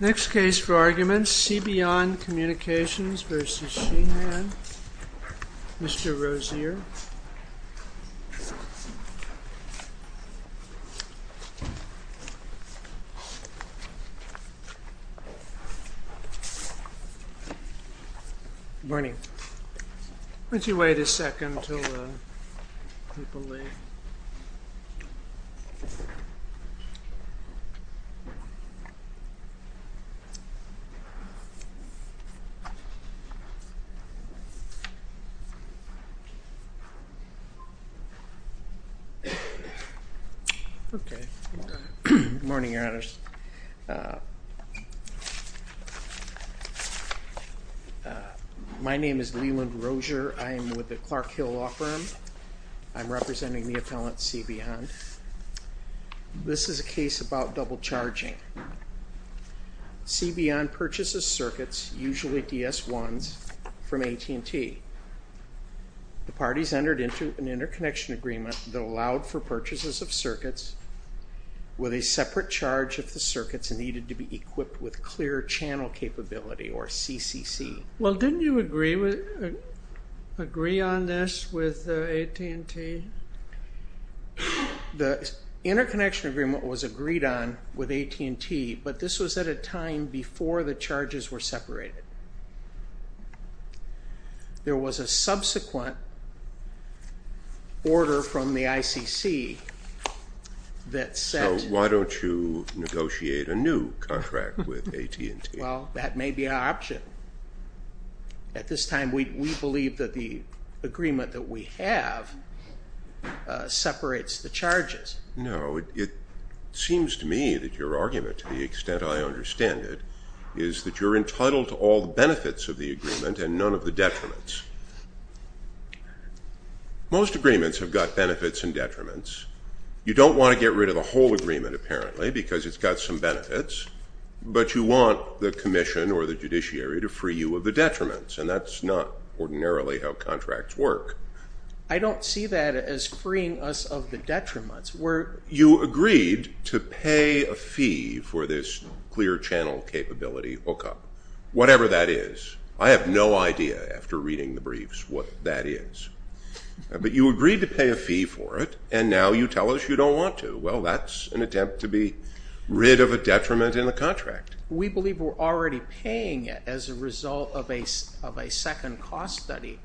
Next case for argument, Cbeyond Communications v. Sheahan, Mr. Rozier Morning. Would you wait a second until the people leave? Okay. Morning, Your Honors. My name is Leland Rozier. I am with the Clark Hill Law Firm. I'm representing the appellant Cbeyond. This is a case about double charging. Cbeyond purchases circuits, usually DS1s, from AT&T. The parties entered into an interconnection agreement that allowed for purchases of circuits with a separate charge if the circuits needed to be equipped with clear channel capability, or CCC. Well, didn't you agree on this with AT&T? The interconnection agreement was agreed on with AT&T, but this was at a time before the charges were separated. There was a subsequent order from the ICC that said... So why don't you negotiate a new contract with AT&T? Well, that may be an option. At this time, we believe that the agreement that we have separates the charges. No, it seems to me that your argument, to the extent I understand it, is that you're entitled to all the benefits of the agreement and none of the detriments. Most agreements have got benefits and detriments. You don't want to get rid of the whole agreement, apparently, because it's got some benefits, but you want the commission or the judiciary to free you of the detriments, and that's not ordinarily how contracts work. I don't see that as freeing us of the detriments. You agreed to pay a fee for this clear channel capability hookup, whatever that is. I have no idea, after reading the briefs, what that is. But you agreed to pay a fee for it, and now you tell us you don't want to. Well, that's an attempt to be rid of a detriment in the contract. We believe we're already paying it as a result of a second cost study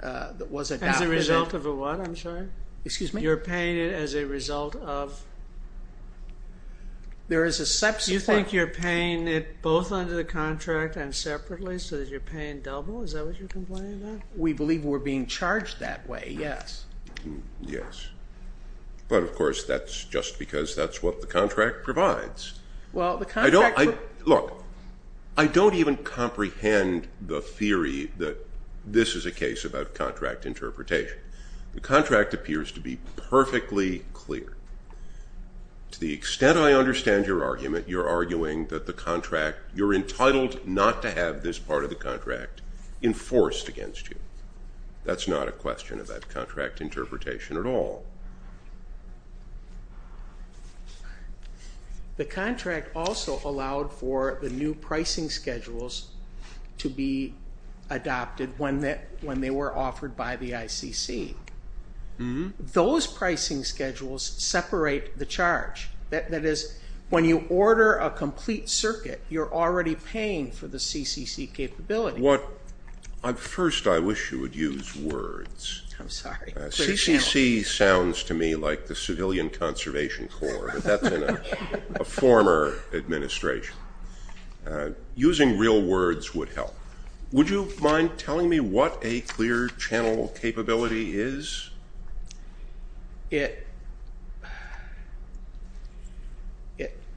that was adopted. As a result of a what? I'm sorry? Excuse me? You're paying it as a result of... Do you think you're paying it both under the contract and separately so that you're paying double? Is that what you're complaining about? We believe we're being charged that way, yes. Yes. But, of course, that's just because that's what the contract provides. Well, the contract... Look, I don't even comprehend the theory that this is a case about contract interpretation. The contract appears to be perfectly clear. To the extent I understand your argument, you're arguing that the contract, you're entitled not to have this part of the contract enforced against you. That's not a question of that contract interpretation at all. The contract also allowed for the new pricing schedules to be adopted when they were offered by the ICC. Those pricing schedules separate the charge. That is, when you order a complete circuit, you're already paying for the CCC capability. First, I wish you would use words. I'm sorry. CCC sounds to me like the Civilian Conservation Corps, but that's in a former administration. Using real words would help. Would you mind telling me what a clear channel capability is? It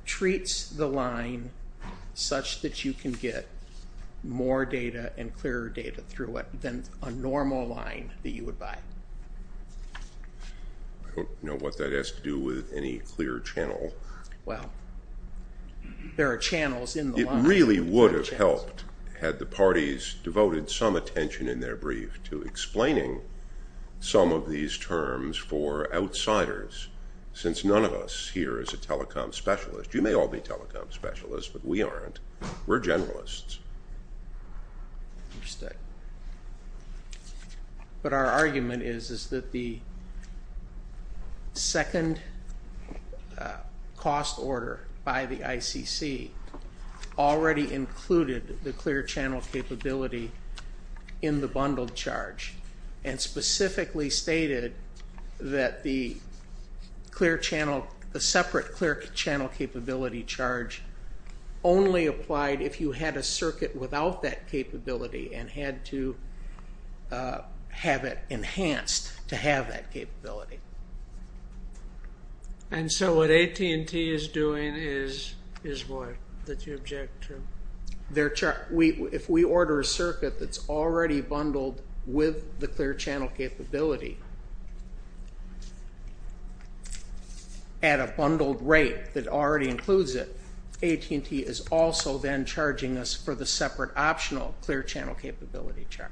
treats the line such that you can get more data and clearer data through it than a normal line that you would buy. I don't know what that has to do with any clear channel. Well, there are channels in the line. It really would have helped had the parties devoted some attention in their brief to explaining some of these terms for outsiders, since none of us here is a telecom specialist. You may all be telecom specialists, but we aren't. We're generalists. Understood. But our argument is that the second cost order by the ICC already included the clear channel capability in the bundled charge and specifically stated that the separate clear channel capability charge only applied if you had a circuit without that capability and had to have it enhanced to have that capability. And so what AT&T is doing is what that you object to? If we order a circuit that's already bundled with the clear channel capability at a bundled rate that already includes it, AT&T is also then charging us for the separate optional clear channel capability charge.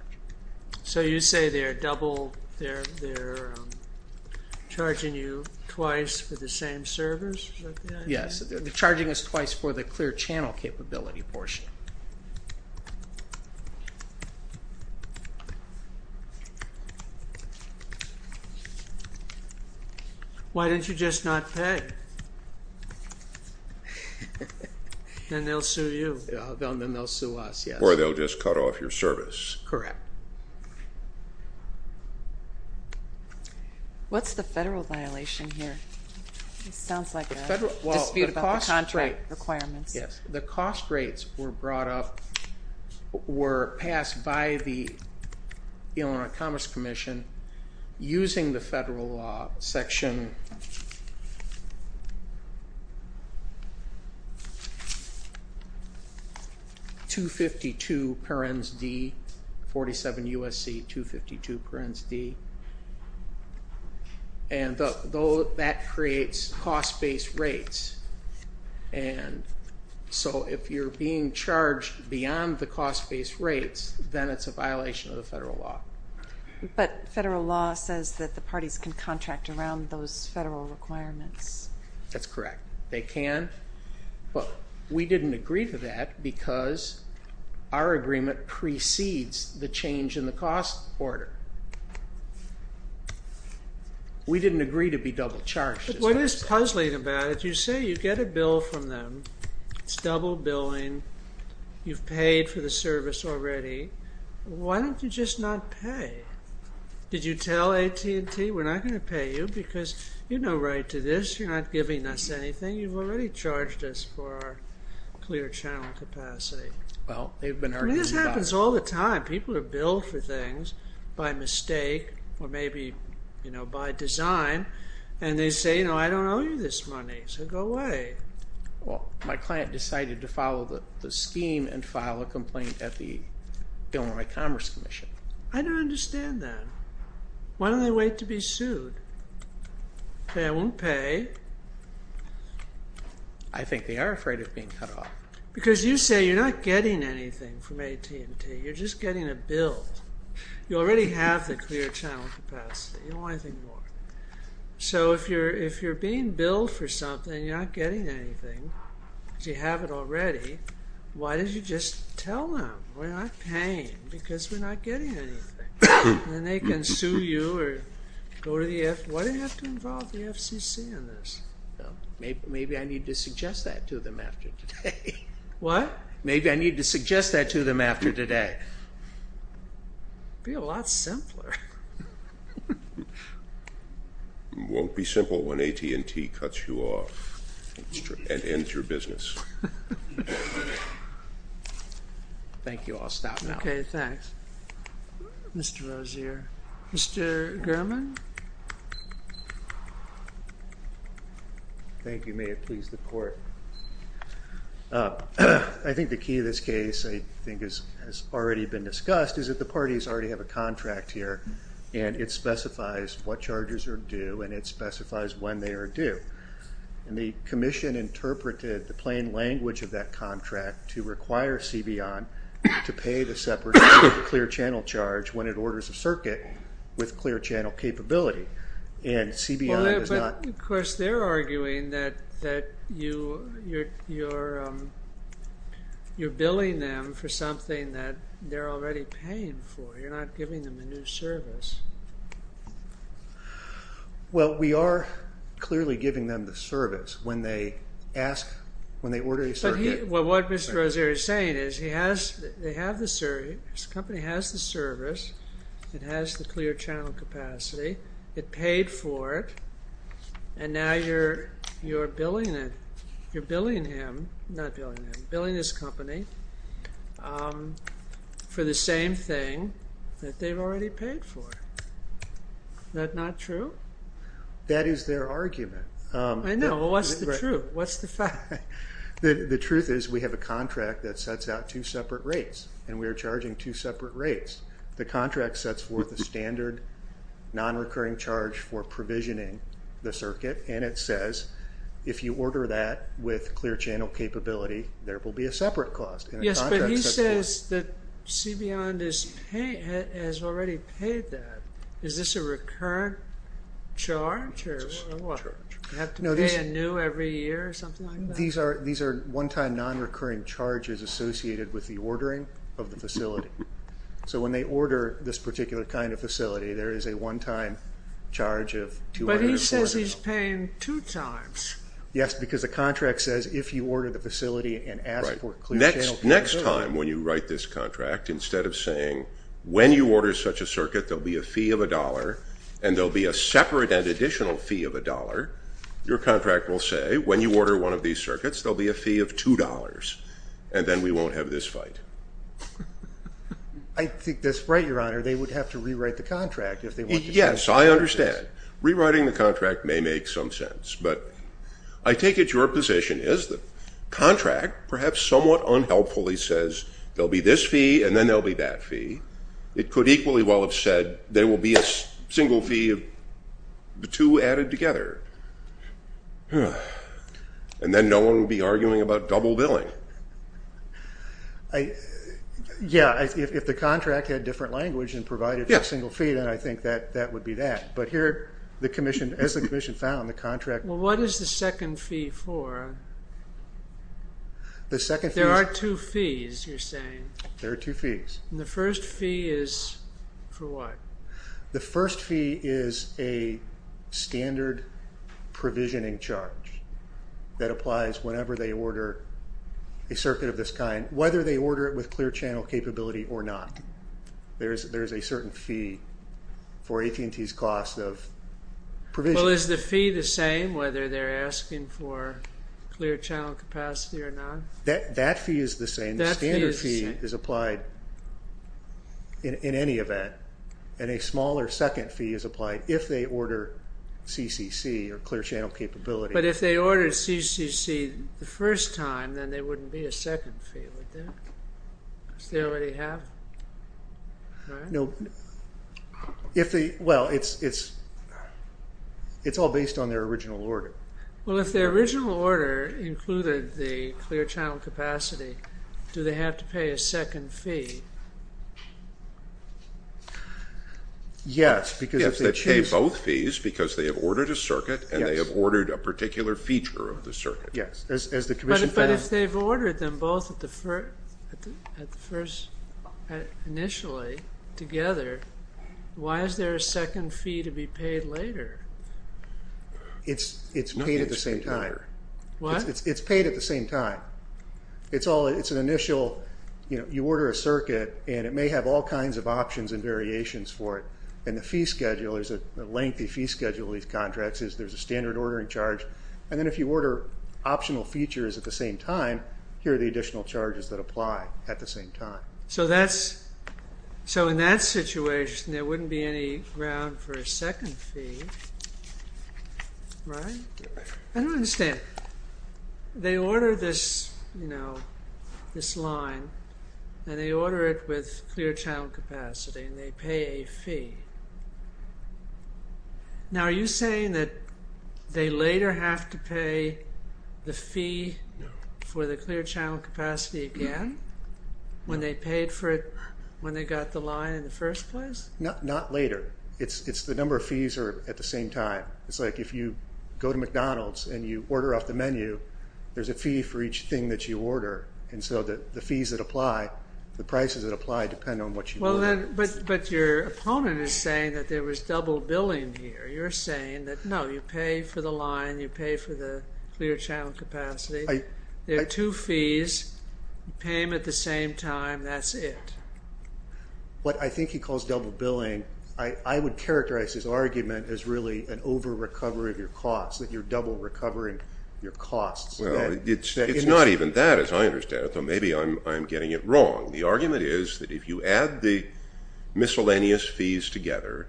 So you say they're charging you twice for the same servers? Yes, they're charging us twice for the clear channel capability portion. Why don't you just not pay? Then they'll sue you. Then they'll sue us, yes. Or they'll just cut off your service. Correct. What's the federal violation here? It sounds like a dispute about the contract requirements. Yes. The cost rates were brought up, were passed by the Illinois Commerce Commission using the federal section 252 parens D, 47 U.S.C. 252 parens D. And that creates cost-based rates. And so if you're being charged beyond the cost-based rates, then it's a violation of the federal law. But federal law says that the parties can contract around those federal requirements. That's correct. They can. We didn't agree to that because our agreement precedes the change in the cost order. We didn't agree to be double charged. But what is puzzling about it? You say you get a bill from them. It's double billing. You've paid for the service already. Why don't you just not pay? Did you tell AT&T, we're not going to pay you because you have no right to this. You're not giving us anything. You've already charged us for our clear channel capacity. Well, they've been arguing about it. This happens all the time. People are billed for things by mistake or maybe, you know, by design. And they say, you know, I don't owe you this money, so go away. Well, my client decided to follow the scheme and file a complaint at the Illinois Commerce Commission. I don't understand that. Why don't they wait to be sued? They won't pay. I think they are afraid of being cut off. Because you say you're not getting anything from AT&T. You're just getting a bill. You already have the clear channel capacity. You don't want anything more. So if you're being billed for something and you're not getting anything because you have it already, why don't you just tell them we're not paying because we're not getting anything. Then they can sue you or go to the FCC. Why do they have to involve the FCC in this? Maybe I need to suggest that to them after today. What? Maybe I need to suggest that to them after today. It would be a lot simpler. It won't be simple when AT&T cuts you off and ends your business. Thank you. I'll stop now. Okay. Thanks. Mr. Rozier. Mr. German? Thank you. May it please the Court. I think the key to this case I think has already been discussed is that the parties already have a contract here, and it specifies what charges are due and it specifies when they are due. And the Commission interpreted the plain language of that contract to require CBION to pay the separate clear channel charge when it orders a circuit with clear channel capability. And CBION does not... But, of course, they're arguing that you're billing them for something that they're already paying for. You're not giving them a new service. Well, we are clearly giving them the service when they ask, when they order a circuit. But what Mr. Rozier is saying is he has, they have the service, the company has the service, it has the clear channel capacity, it paid for it, and now you're billing it, you're billing him, not billing him, billing this company for the same thing that they've already paid for. Is that not true? That is their argument. I know. Well, what's the truth? What's the fact? The truth is we have a contract that sets out two separate rates, and we are charging two separate rates. The contract sets forth a standard nonrecurring charge for provisioning the circuit, and it says if you order that with clear channel capability, there will be a separate cost. Yes, but he says that CBION has already paid that. Is this a recurrent charge or what? Do you have to pay a new every year or something like that? These are one-time nonrecurring charges associated with the ordering of the facility. So when they order this particular kind of facility, there is a one-time charge of $200. But he says he's paying two times. Yes, because the contract says if you order the facility and ask for clear channel capability. Next time when you write this contract, instead of saying when you order such a circuit, there will be a fee of $1 and there will be a separate and additional fee of $1, your contract will say when you order one of these circuits, there will be a fee of $2, and then we won't have this fight. I think that's right, Your Honor. They would have to rewrite the contract if they wanted to pay $2. Yes, I understand. Rewriting the contract may make some sense. But I take it your position is the contract perhaps somewhat unhelpfully says there will be this fee and then there will be that fee. It could equally well have said there will be a single fee of the two added together. And then no one would be arguing about double billing. Yes, if the contract had different language and provided for a single fee, then I think that would be that. But here, as the Commission found, the contract... Well, what is the second fee for? The second fee... There are two fees, you're saying. There are two fees. The first fee is for what? The first fee is a standard provisioning charge that applies whenever they order a circuit of this kind, whether they order it with clear channel capability or not. There is a certain fee for AT&T's cost of provisioning. Well, is the fee the same whether they're asking for clear channel capacity or not? That fee is the same. The standard fee is applied in any event. And a smaller second fee is applied if they order CCC or clear channel capability. But if they order CCC the first time, then there wouldn't be a second fee, would there? Because they already have, right? No. Well, it's all based on their original order. Well, if their original order included the clear channel capacity, do they have to pay a second fee? Yes, because if they choose... Yes, they pay both fees because they have ordered a circuit and they have ordered a particular feature of the circuit. Yes, as the Commission found. But if they've ordered them both initially together, why is there a second fee to be paid later? It's paid at the same time. What? It's paid at the same time. It's an initial. You order a circuit, and it may have all kinds of options and variations for it. And the fee schedule is a lengthy fee schedule. These contracts, there's a standard ordering charge. And then if you order optional features at the same time, here are the additional charges that apply at the same time. So in that situation, there wouldn't be any ground for a second fee, right? I don't understand. They order this line, and they order it with clear channel capacity, and they pay a fee. Now, are you saying that they later have to pay the fee for the clear channel capacity again when they paid for it when they got the line in the first place? Not later. It's the number of fees at the same time. It's like if you go to McDonald's and you order off the menu, there's a fee for each thing that you order. And so the fees that apply, the prices that apply depend on what you order. But your opponent is saying that there was double billing here. You're saying that, no, you pay for the line, you pay for the clear channel capacity. There are two fees. You pay them at the same time. That's it. What I think he calls double billing, I would characterize his argument as really an over-recovery of your costs, that you're double recovering your costs. Well, it's not even that, as I understand it, though maybe I'm getting it wrong. The argument is that if you add the miscellaneous fees together,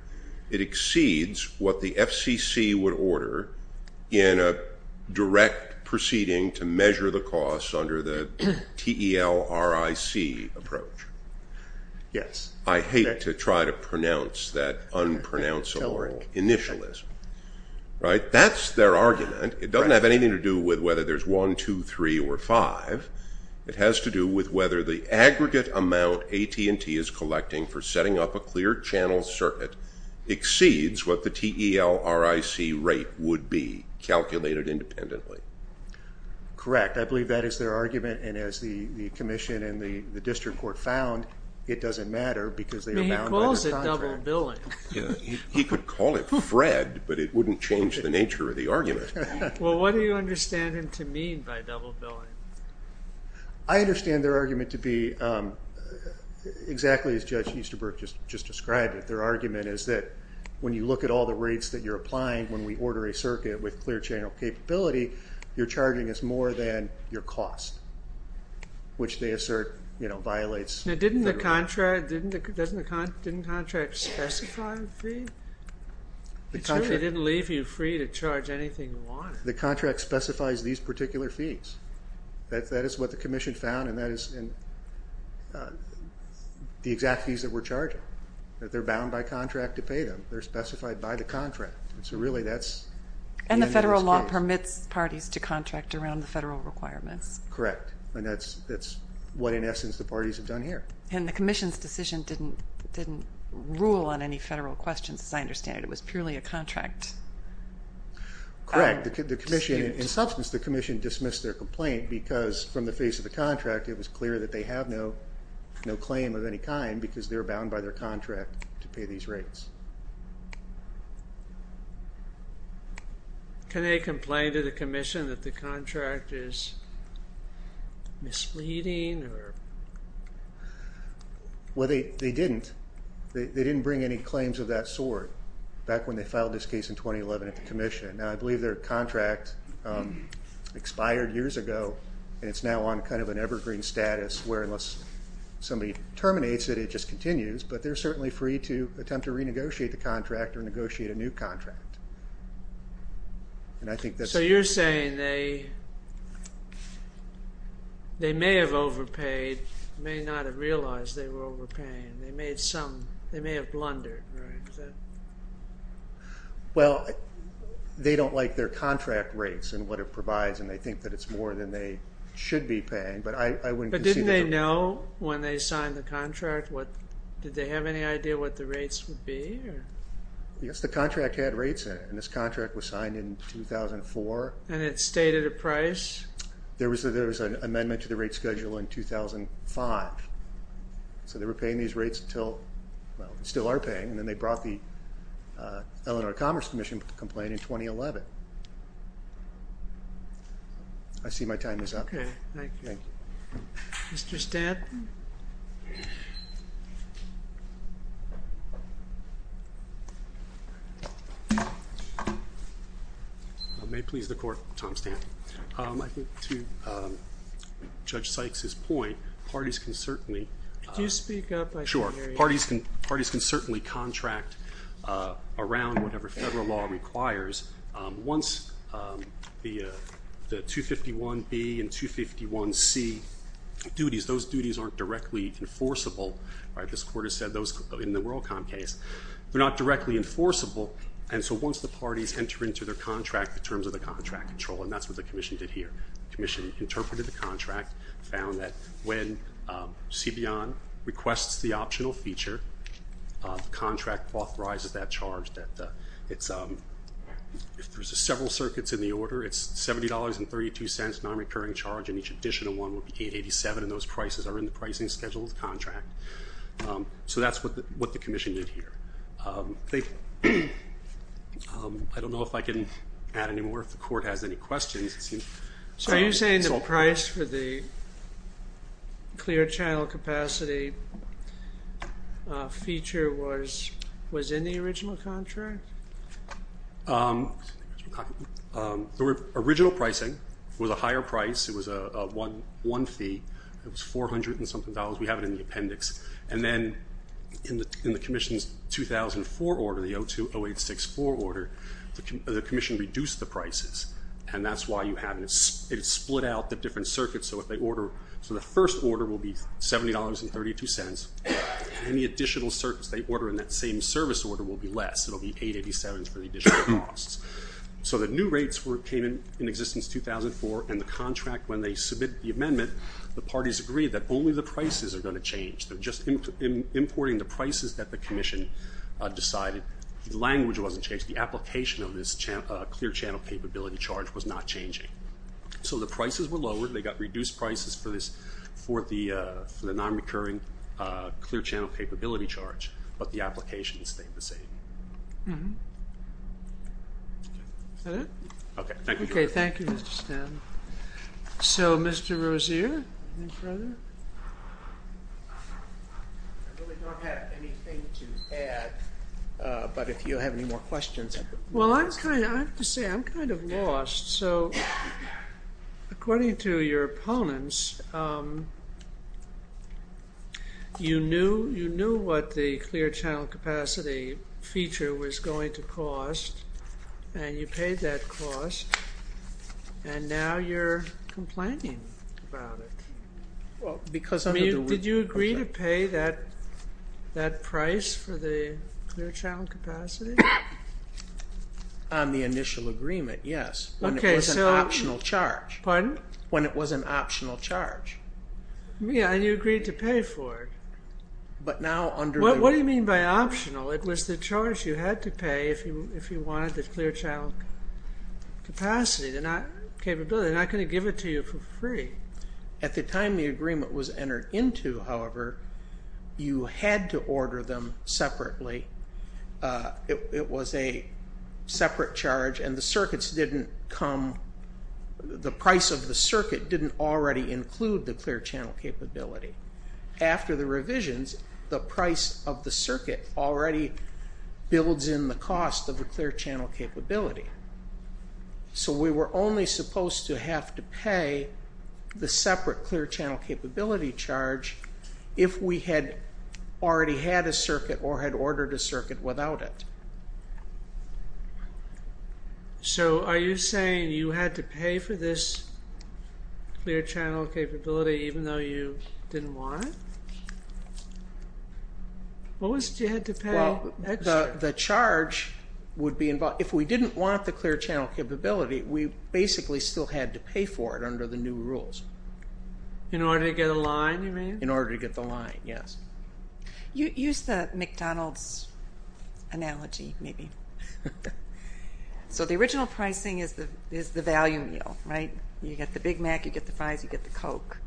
it exceeds what the FCC would order in a direct proceeding to measure the costs under the TELRIC approach. Yes. I hate to try to pronounce that unpronounceable initialism. Right? That's their argument. It doesn't have anything to do with whether there's one, two, three, or five. It has to do with whether the aggregate amount AT&T is collecting for setting up a clear channel circuit exceeds what the TELRIC rate would be calculated independently. Correct. I believe that is their argument, and as the commission and the district court found, it doesn't matter because they are bound by the contract. He calls it double billing. He could call it FRED, but it wouldn't change the nature of the argument. Well, what do you understand him to mean by double billing? I understand their argument to be exactly as Judge Easterbrook just described it. Their argument is that when you look at all the rates that you're applying when we order a circuit with clear channel capability, your charging is more than your cost, which they assert violates the rule. Now, didn't the contract specify free? It didn't leave you free to charge anything you wanted. The contract specifies these particular fees. That is what the commission found, and that is the exact fees that we're charging. They're bound by contract to pay them. They're specified by the contract. And the federal law permits parties to contract around the federal requirements. Correct, and that's what, in essence, the parties have done here. And the commission's decision didn't rule on any federal questions, as I understand it. It was purely a contract. Correct. In substance, the commission dismissed their complaint because from the face of the contract, it was clear that they have no claim of any kind because they're bound by their contract to pay these rates. Can they complain to the commission that the contract is misleading? Well, they didn't. They didn't bring any claims of that sort back when they filed this case in 2011 at the commission. Now, I believe their contract expired years ago, and it's now on kind of an evergreen status where unless somebody terminates it, it just continues. But they're certainly free to attempt to renegotiate the contract or negotiate a new contract. So you're saying they may have overpaid, may not have realized they were overpaying. They may have blundered. Well, they don't like their contract rates and what it provides, and they think that it's more than they should be paying. But didn't they know when they signed the contract? Did they have any idea what the rates would be? Yes, the contract had rates in it, and this contract was signed in 2004. And it stayed at a price? There was an amendment to the rate schedule in 2005. So they were paying these rates until, well, they still are paying, and then they brought the Eleanor Commerce Commission complaint in 2011. I see my time is up. Okay, thank you. Thank you. Mr. Stanton? May it please the Court, Tom Stanton. I think to Judge Sykes's point, parties can certainly- Could you speak up? Sure. Parties can certainly contract around whatever federal law requires. Once the 251B and 251C duties, those duties aren't directly enforceable. This Court has said those in the WorldCom case, they're not directly enforceable. And so once the parties enter into their contract, the terms of the contract control, and that's what the Commission did here. The Commission interpreted the contract, found that when CBON requests the optional feature, the contract authorizes that charge. If there's several circuits in the order, it's $70.32, non-recurring charge, and each additional one would be $887, and those prices are in the pricing schedule of the contract. So that's what the Commission did here. I don't know if I can add any more, if the Court has any questions. Sir, are you saying the price for the clear channel capacity feature was in the original contract? The original pricing was a higher price. It was a one fee. It was $400 and something. We have it in the appendix. And then in the Commission's 2004 order, the 02-0864 order, the Commission reduced the prices, and that's why you have it. It split out the different circuits. So if they order, so the first order will be $70.32. Any additional circuits they order in that same service order will be less. It will be $887 for the additional costs. So the new rates came in existence 2004, and the contract, when they submit the amendment, the parties agree that only the prices are going to change. They're just importing the prices that the Commission decided. The language wasn't changed. The application of this clear channel capability charge was not changing. So the prices were lowered. They got reduced prices for this, for the nonrecurring clear channel capability charge, but the application stayed the same. Is that it? Okay, thank you. Okay, thank you, Mr. Stan. So, Mr. Rozier, anything further? I really don't have anything to add, but if you have any more questions, I'll put them in the Q&A. Well, I have to say I'm kind of lost. So according to your opponents, you knew what the clear channel capacity feature was going to cost, and you paid that cost, and now you're complaining about it. Did you agree to pay that price for the clear channel capacity? On the initial agreement, yes. When it was an optional charge. Pardon? When it was an optional charge. Yeah, and you agreed to pay for it. But now under the— What do you mean by optional? It was the charge you had to pay if you wanted the clear channel capacity. They're not going to give it to you for free. At the time the agreement was entered into, however, you had to order them separately. It was a separate charge, and the circuits didn't come—the price of the circuit didn't already include the clear channel capability. After the revisions, the price of the circuit already builds in the cost of the clear channel capability. So we were only supposed to have to pay the separate clear channel capability charge if we had already had a circuit or had ordered a circuit without it. So are you saying you had to pay for this clear channel capability even though you didn't want it? What was it you had to pay? The charge would be—if we didn't want the clear channel capability, we basically still had to pay for it under the new rules. In order to get a line, you mean? In order to get the line, yes. Use the McDonald's analogy, maybe. So the original pricing is the value meal, right? You get the Big Mac, you get the fries, you get the Coke.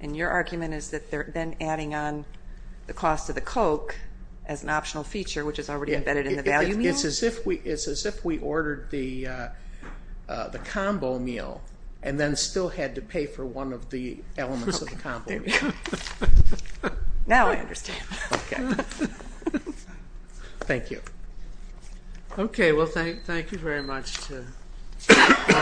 And your argument is that they're then adding on the cost of the Coke as an optional feature, which is already embedded in the value meal? It's as if we ordered the combo meal and then still had to pay for one of the elements of the combo meal. Now I understand. Thank you. Okay, well, thank you very much.